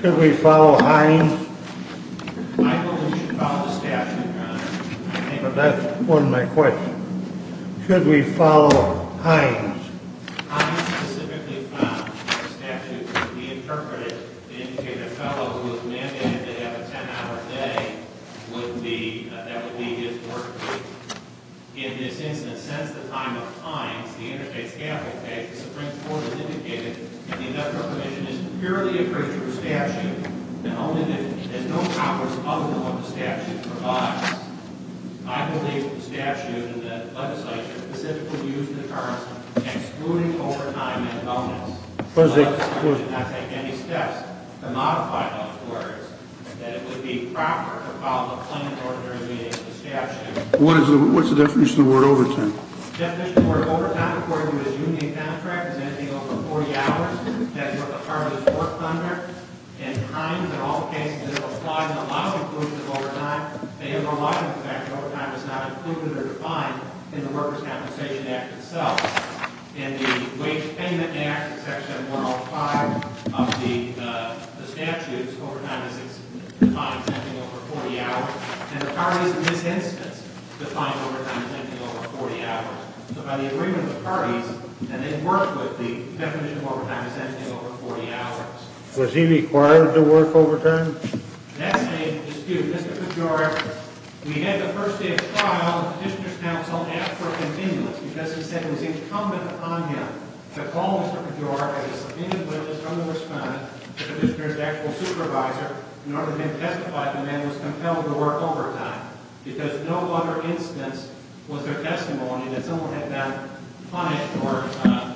Should we follow Hines? Michael, you should follow the statute, Your Honor. But that wasn't my question. Should we follow Hines? Hines specifically found that the statute could be interpreted to indicate a fellow who was mandated to have a 10-hour day that would be his work week. In this instance, since the time of Hines, the Interstate Scaffolding Act, the Supreme Court has indicated that the industrial commission is purely a creature of statute and has no powers other than what the statute provides. I believe the statute and the legislature specifically use the terms excluding overtime and wellness. The legislature did not take any steps to modify those words that it would be proper to follow the plain and ordinary meaning of the statute. What's the definition of the word overtime? The definition of the word overtime according to the union contract is anything over 40 hours. That's what the farm is worked under. And Hines, in all cases, has applied a lot of inclusion of overtime. They have relied on the fact that overtime is not included or defined in the Workers' Compensation Act itself. In the Wage Payment Act, section 105 of the statute, overtime is defined as anything over 40 hours. And the parties in this instance define overtime as anything over 40 hours. So by the agreement of the parties, and they've worked with, the definition of overtime is anything over 40 hours. Was he required to work overtime? That's a dispute. Mr. Pejora, we had the first day of trial, the petitioner's counsel asked for a continuance because he said it was incumbent upon him to call Mr. Pejora as a subpoenaed witness, from the respondent to the petitioner's actual supervisor, in order to then testify that the man was compelled to work overtime. Because no other instance was their testimony that someone had been punished or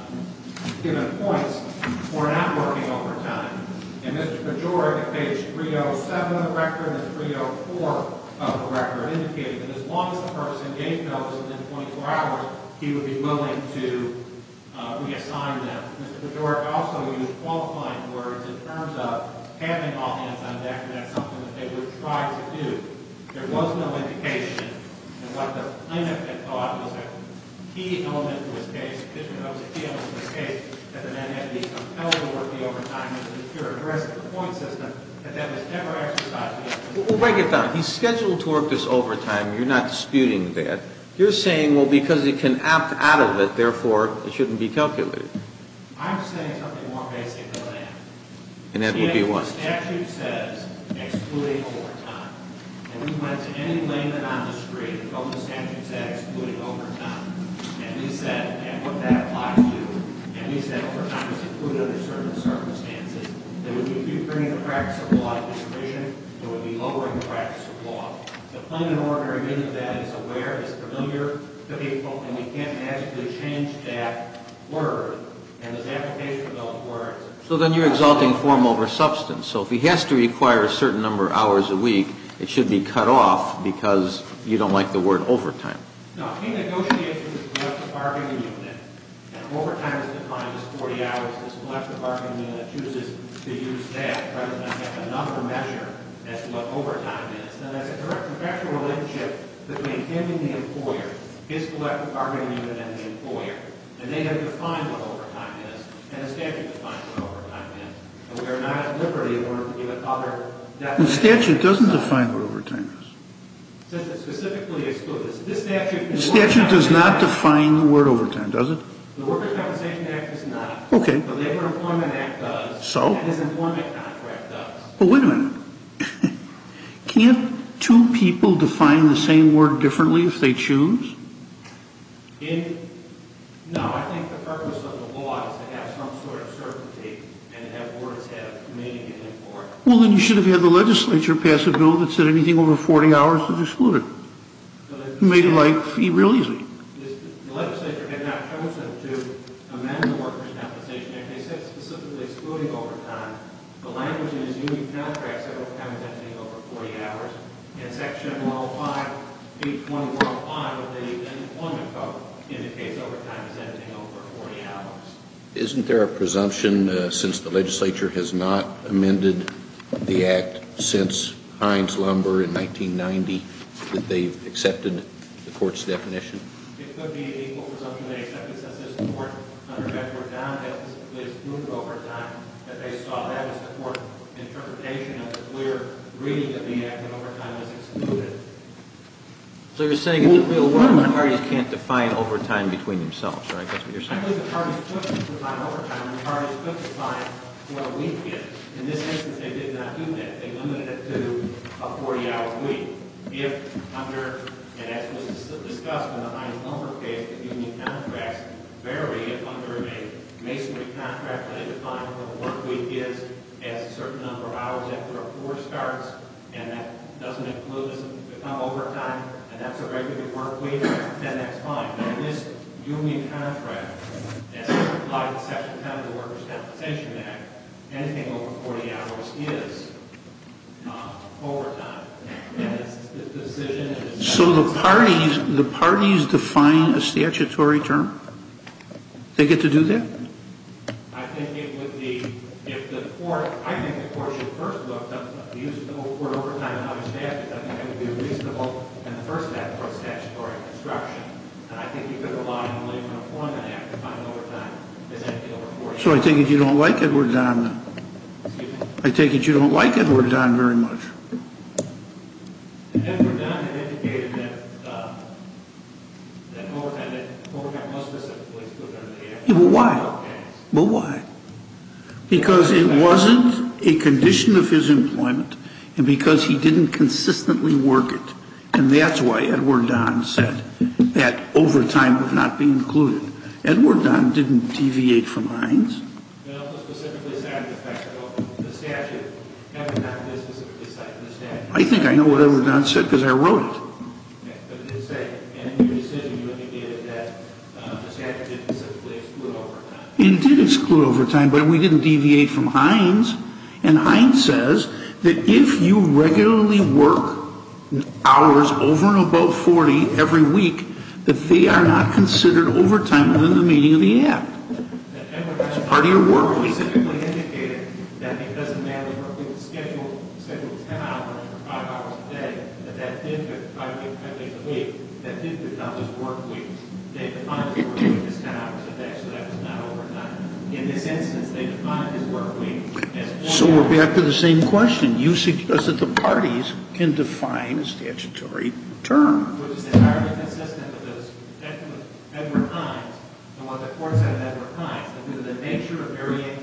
given points for not working overtime. And Mr. Pejora, at page 307 of the record and 304 of the record, indicated that as long as the person gave notice within 24 hours, he would be willing to reassign them. Mr. Pejora also used qualifying words in terms of having all hands on deck, and that's something that they would try to do. There was no indication, and what the plaintiff had thought was a key element to his case, that the man had been compelled to work the overtime as a secure address for the point system, that that was never exercised. We'll break it down. He's scheduled to work this overtime. You're not disputing that. You're saying, well, because he can opt out of it, therefore, it shouldn't be calculated. I'm saying something more basic than that. And that would be what? The statute says, excluding overtime. And we went to any layman on the street, and what the statute said, excluding overtime. And we said, and what that applies to, and we said overtime is excluded under certain circumstances, that if you bring the practice of law to the provision, it would be lowering the practice of law. So plain and ordinary means of that is aware, is familiar to people, and we can't magically change that word, and this application of those words. So then you're exalting form over substance. So if he has to require a certain number of hours a week, it should be cut off because you don't like the word overtime. No, he negotiates with his collective bargaining unit, and overtime is defined as 40 hours. His collective bargaining unit chooses to use that rather than have a number measure as to what overtime is. And there's a direct contractual relationship between him and the employer, his collective bargaining unit and the employer, and they have defined what overtime is, and the statute defines what overtime is. And we are not at liberty in order to give it other definitions. The statute doesn't define what overtime is. Since it specifically excludes it. The statute does not define the word overtime, does it? The Workers' Compensation Act does not. Okay. The Labor Employment Act does. So? And his employment contract does. Well, wait a minute. Can't two people define the same word differently if they choose? No. I think the purpose of the law is to have some sort of certainty and have words have meaning in them for it. Well, then you should have had the legislature pass a bill that said anything over 40 hours is excluded. You made it, like, fee-releasing. The legislature had not chosen to amend the Workers' Compensation Act. They said specifically excluding overtime. The language in his union contract said overtime is anything over 40 hours. In Section 105B21-5 of the Employment Code indicates overtime as anything over 40 hours. Isn't there a presumption, since the legislature has not amended the act since Heinz Lumber in 1990, that they've accepted the court's definition? It could be an equal presumption they accepted since their support under Betzworth-Dowd had specifically excluded overtime, that they saw that as the court's interpretation of the clear reading of the act that overtime is excluded. So you're saying the parties can't define overtime between themselves, right? That's what you're saying? I believe the parties could define overtime and the parties could define what a week is. In this instance, they did not do that. They limited it to a 40-hour week. If under, and as was discussed in the Heinz Lumber case, the union contracts vary, if under a masonry contract they define what a work week is as a certain number of hours after a poor starts, and that doesn't include, doesn't become overtime, and that's a regular work week, then that's fine. In this union contract, as applied to Section 10 of the Workers' Compensation Act, anything over 40 hours is overtime. And the decision is... So the parties define a statutory term? They get to do that? I think it would be, if the court, I think the court should first look, the use of the word overtime and other statutes, I think that would be reasonable, and the first step for a statutory construction, and I think you could rely on the Labor and Employment Act to define overtime as anything over 40 hours. So I take it you don't like Edward Don? Excuse me? I take it you don't like Edward Don very much? Edward Don had indicated that overtime was specifically... Well, why? Because it wasn't a condition of his employment and because he didn't consistently work it, and that's why Edward Don said that overtime would not be included. Edward Don didn't deviate from Hines. It also specifically cited the fact that the statute, Edward Don did specifically cite the statute. I think I know what Edward Don said because I wrote it. Okay, but it did say in your decision you indicated that the statute didn't specifically exclude overtime. It did exclude overtime, but we didn't deviate from Hines, and Hines says that if you regularly work hours over and above 40 every week, that they are not considered overtime within the meaning of the act. Edward Don specifically indicated that it doesn't matter if we schedule 10 hours or 5 hours a day, that that did become his work week. They defined his work week as 10 hours a day, so that was not overtime. In this instance, they defined his work week as... So we're back to the same question. You suggest that the parties can define a statutory term. Which is entirely consistent with Edward Hines, and what the court said of Edward Hines, that due to the nature of varying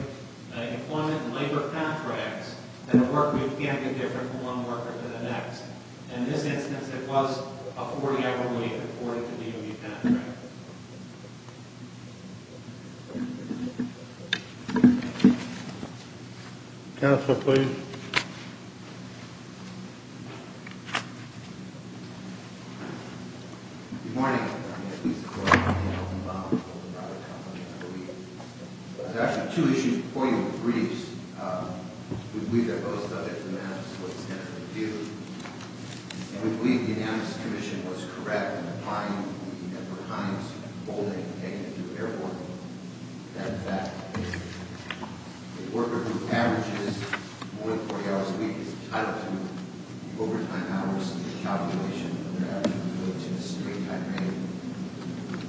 employment and labor contracts, that the work week can be different from one worker to the next. In this instance, it was a 40-hour week according to DOD contracts. Counsel, please. Good morning. I'm here to speak to the court on behalf of the Obama Court of Arbitration, I believe. There are actually two issues before you in the briefs. We believe that both subjects of the matter, so it's definitely due. And we believe the Anamnes Commission was correct in implying that Edward Hines, was holding a two-hour work week. That in fact is a worker who averages more than 40 hours a week is entitled to overtime hours in the calculation of their average work week, relative to the straight-time rate.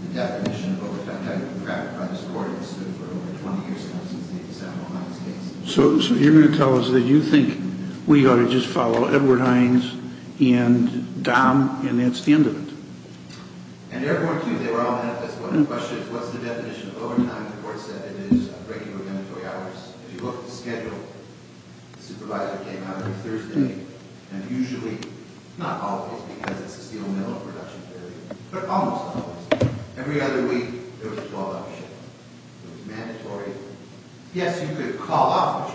The definition of overtime time in the contract by this court has stood for over 20 years now since they decided on Hines' case. So you're going to tell us that you think we ought to just follow Edward Hines and DOM, and that's the end of it? And they're going to. They were all manifest. But the question is, what's the definition of overtime? The court said it is regular mandatory hours. If you look at the schedule, the supervisor came out every Thursday, and usually, not always, because it's a steel mill and production failure, but almost always, every other week, there was a call-off shift. It was mandatory. Yes, you could call off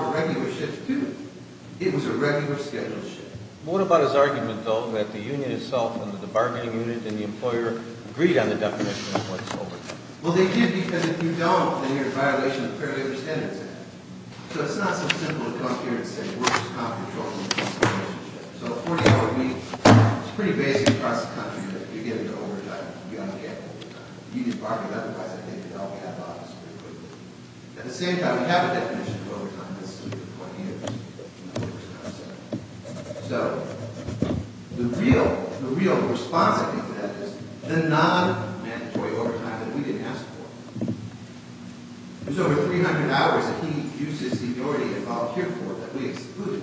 a regular shift, too. It was a regular scheduled shift. What about his argument, though, that the union itself and the bargaining unit and the employer agreed on the definition of what's overtime? Well, they did, because if you don't, then you're in violation of the Fair Labor Standards Act. So it's not so simple to come here and say workers' comp controls the relationship. So a 40-hour week is pretty basic across the country, but if you get into overtime, you don't get overtime. If you did bargaining, otherwise, I think you'd all be out of office pretty quickly. At the same time, we have a definition of overtime. So the real response, I think, to that is the non-mandatory overtime that we didn't ask for. It was over 300 hours that he used his seniority to volunteer for that we excluded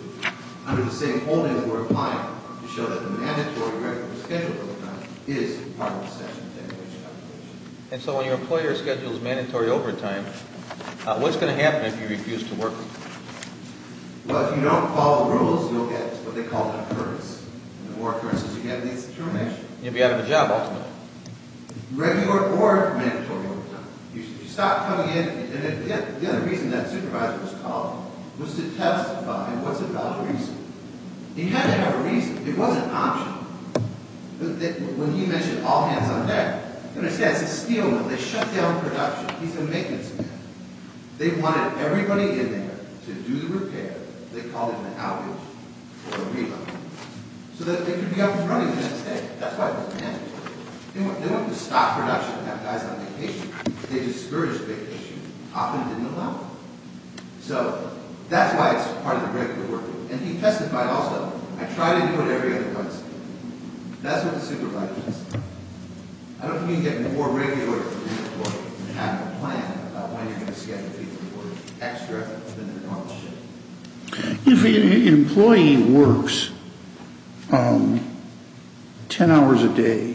under the same holding that we're applying to show that the mandatory regular scheduled overtime is part of the session definition. And so when your employer schedules mandatory overtime, what's going to happen if you refuse to work overtime? Well, if you don't follow the rules, you'll get what they call an occurrence. And the more occurrences you get, the less determination. You'll be out of a job, ultimately. Regular or mandatory overtime. If you stop coming in, and the other reason that supervisor was called was to testify, and what's a valid reason? He had to have a reason. It wasn't optional. When he mentioned all hands on deck, it's a steel mill. They shut down production. He's a maintenance man. They wanted everybody in there to do the repair. They called it an outage or a reload. So that they could be up and running the next day. That's why it was mandatory. They wanted to stop production and have guys on vacation. They discouraged vacation. Often didn't allow it. So that's why it's part of the regular working. And he testified also. I tried to include every other person. That's what the supervisor testified. I don't think you can get more regular employees than you have in the plan. About when you're going to schedule people to work extra than they normally should. If an employee works 10 hours a day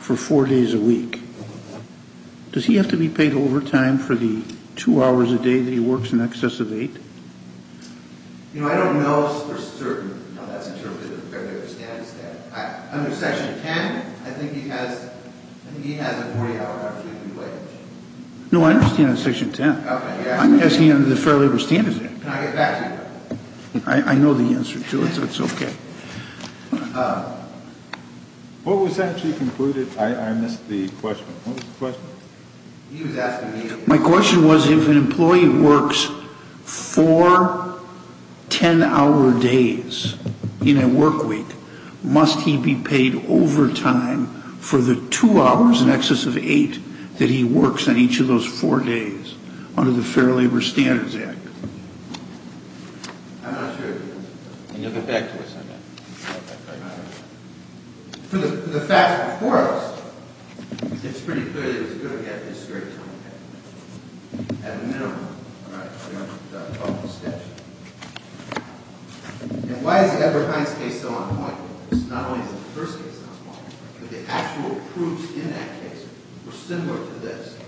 for 4 days a week, does he have to be paid overtime for the 2 hours a day that he works in excess of 8? You know, I don't know for certain how that's interpreted. Under Section 10, I think he has a 40 hour opportunity to wage. No, I understand under Section 10. I'm asking under the Fair Labor Standards Act. Can I get back to you? I know the answer to it, so it's okay. What was actually concluded? I missed the question. What was the question? He was asking me. My question was if an employee works 4 10-hour days in a work week, must he be paid overtime for the 2 hours in excess of 8 that he works on each of those 4 days under the Fair Labor Standards Act? I'm not sure. You'll get back to us on that. For the facts before us, it's pretty clear that he's going to get a straight time pay. At a minimum. All right. I'm going to stop the sketch. Why is the Edward Hines case so on point? Not only is the first case on point, but the actual proofs in that case were similar to this.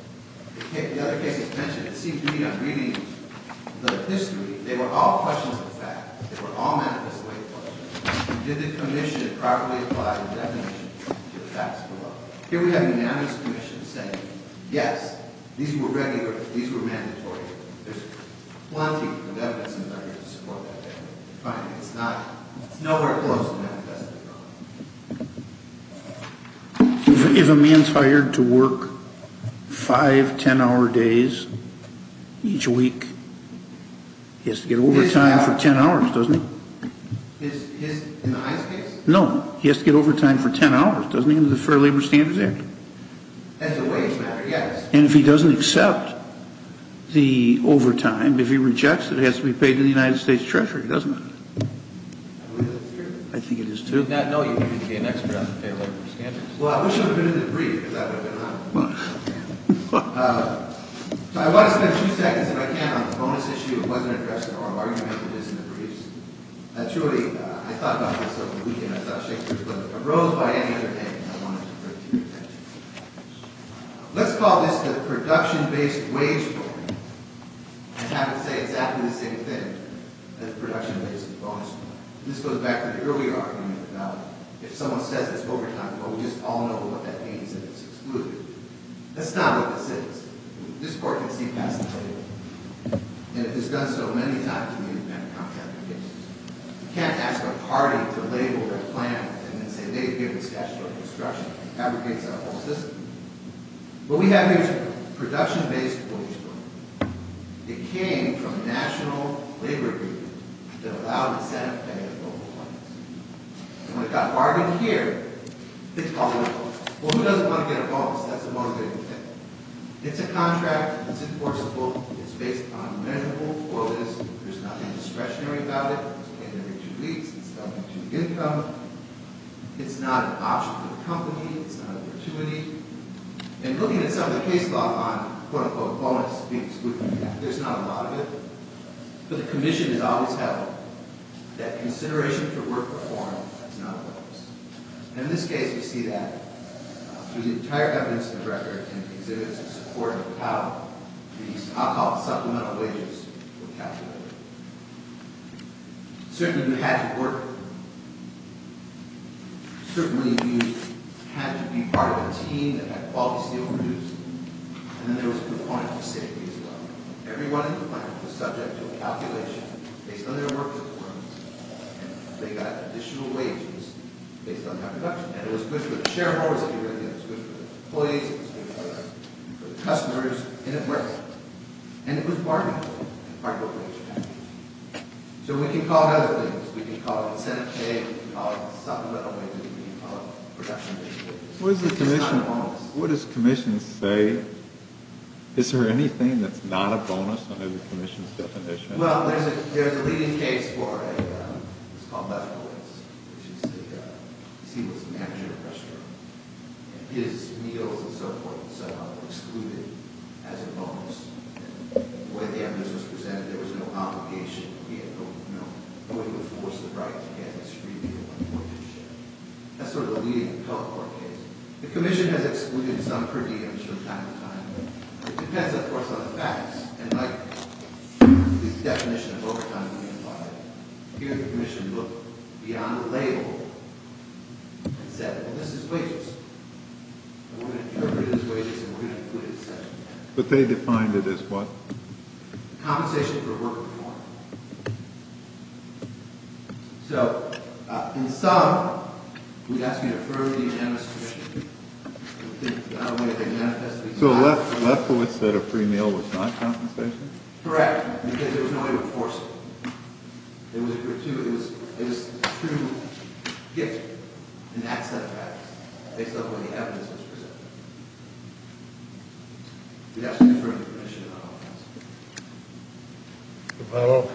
The other case is mentioned. It seems to me I'm reading the history. They were all questions of fact. They were all manifest way questions. Did the commission properly apply the definition to the facts below? Here we have an anonymous commission saying, yes, these were regular. These were mandatory. There's plenty of evidence in the record to support that. It's nowhere close to manifesting. If a man's hired to work 5 10-hour days each week, he has to get overtime for 10 hours, doesn't he? In the Hines case? No. He has to get overtime for 10 hours, doesn't he, under the Fair Labor Standards Act? As a wage matter, yes. And if he doesn't accept the overtime, if he rejects it, it has to be paid to the United States Treasury, doesn't it? I believe that's true. I think it is, too. Did you not know you needed to be an expert on the Fair Labor Standards Act? Well, I wish I would have been in the brief, because I would have been honored. I want to spend a few seconds, if I can, on the bonus issue that wasn't addressed in our argument, which is in the briefs. Truly, I thought about this over the weekend. I thought Shakespeare's book arose by any other name, and I wanted to bring it to your attention. Let's call this the production-based wage problem and have it say exactly the same thing as the production-based bonus problem. This goes back to the earlier argument about if someone says it's overtime, well, we just all know what that means. That it's excluded. That's not what this is. This court can see past the label. And it has done so many times in independent counseling applications. You can't ask a party to label their plan and then say they've given statutory instruction. It fabricates our whole system. What we have here is a production-based wage problem. It came from a national labor agreement that allowed the Senate to pay its own employees. And when it got bargained here, it's called a wage problem. Well, who doesn't want to get a bonus? That's the motivating thing. It's a contract. It's enforceable. It's based on amendable for this. There's nothing discretionary about it. It's paid every two weeks. It's doubled to the income. It's not an option for the company. It's not a fortuity. And looking at some of the case law on quote-unquote bonus being excluded, there's not a lot of it. But the commission has always held that consideration for work reform is not a bonus. And in this case, we see that. Through the entire evidence in the record and exhibits in support of how these so-called supplemental wages were calculated. Certainly, you had to work. Certainly, you had to be part of a team that had quality steel produced. And there was a component to safety as well. Everyone in the plant was subject to a calculation based on their work performance. And they got additional wages based on that production. And it was good for the shareholders. It was good for the employees. It was good for the customers. And it worked. And it was part of the wage cap. So we can call it other things. We can call it incentive pay. We can call it supplemental wages. We can call it production wages. It's not a bonus. What does the commission say? Is there anything that's not a bonus under the commission's definition? Well, there's a leading case for a — it's called Lefkowitz. He was the manager of a restaurant. And his meals and so forth and so on were excluded as a bonus. And the way the evidence was presented, there was no obligation. He had no — no one would force the right to get his free meal on board. That's sort of a leading appellate court case. The commission has excluded some per diems from time to time. It depends, of course, on the facts. And, like the definition of overtime being applied, here the commission looked beyond the label and said, well, this is wages. We're going to interpret it as wages and we're going to include it as such. But they defined it as what? Compensation for work performance. So, in sum, we'd ask you to affirm the unanimous submission. So Lefkowitz said a free meal was not compensation? Correct. Because there was no way to force it. It was a gratuitous — it was a true gift in that set of facts, based on the way the evidence was presented. We'd ask you to affirm the commission on all counts.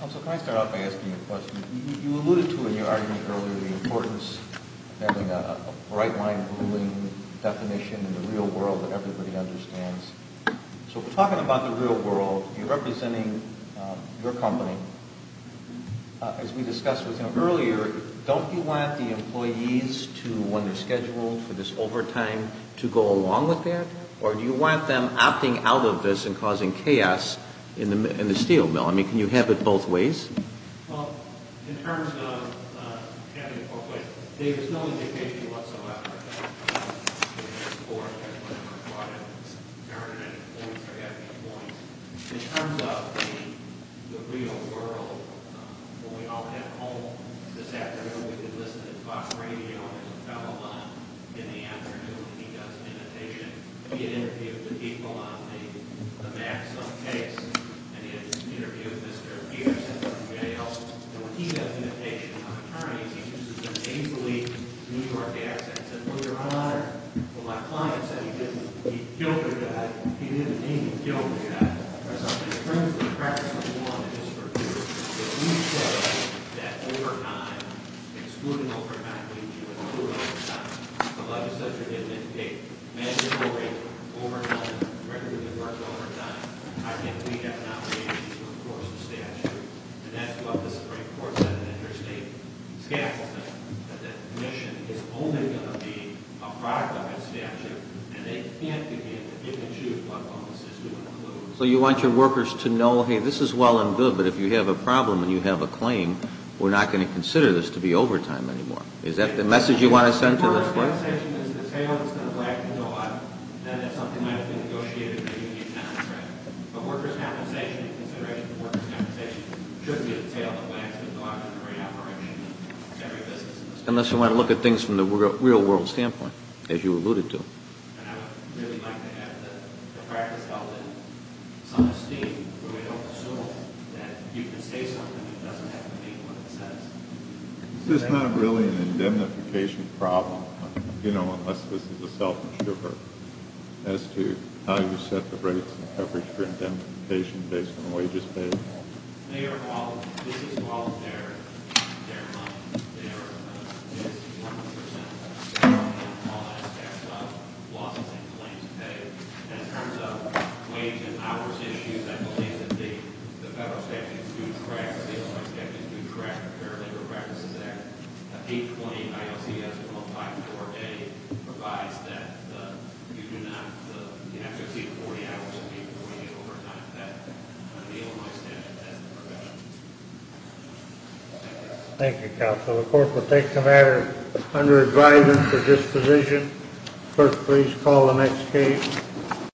Counsel, can I start off by asking you a question? You alluded to in your argument earlier the importance of having a right-line ruling definition in the real world that everybody understands. So we're talking about the real world. You're representing your company. As we discussed with you earlier, don't you want the employees to, when they're scheduled for this overtime, to go along with that? Or do you want them opting out of this and causing chaos in the steel mill? Can you have it both ways? Well, in terms of having a court case, there's no indication whatsoever that the court has whatever brought in. There aren't any points. There haven't been points. In terms of the real world, when we all head home this afternoon, we can listen to Fox Radio and telephone. In the afternoon, he does imitation. He had interviewed the people on the Maxim case, and he had this interview with Mr. Peterson from JL. And when he does imitation on attorneys, he uses an easily New York accent. He said, well, Your Honor, well, my client said he killed your guy. He didn't mean to kill your guy. In terms of the practice of law, Mr. McHugh, if we say that overtime, excluding over-medical leave, you can do overtime, the legislature didn't indicate mandatory overtime, regularly worked overtime, I think we have an obligation to enforce the statute. And that's what the Supreme Court said in the interstate scaffolding, that the commission is only going to be a product of its statute, and they can't begin to give and choose what bonuses to include. So you want your workers to know, hey, this is well and good, but if you have a problem and you have a claim, we're not going to consider this to be overtime anymore. Is that the message you want to send to this court? If compensation is the tail that's going to wag the dog, then it's something that has been negotiated. But workers' compensation, in consideration of workers' compensation, should be the tail that wags the dog in the re-operation of every business. Unless you want to look at things from the real-world standpoint, as you alluded to. And I would really like to have the practice held in some esteem where we don't assume that you can say something that doesn't have to mean what it says. Is this not really an indemnification problem, unless this is a self-introvert, as to how you set the rates and coverage for indemnification based on wages paid? Mayor, this is all their money. This is 100 percent of all that staff's losses and claims paid. In terms of wage and hours issues, the federal statutes do track, and the Illinois statutes do track the Fair Labor Practices Act. The 820 ILCS 154A provides that you do not have to exceed 40 hours of labor when you're overtime. That's what the Illinois statute says. Thank you, Counsel. The court will take the matter under advisement for disposition. Clerk, please call the next case.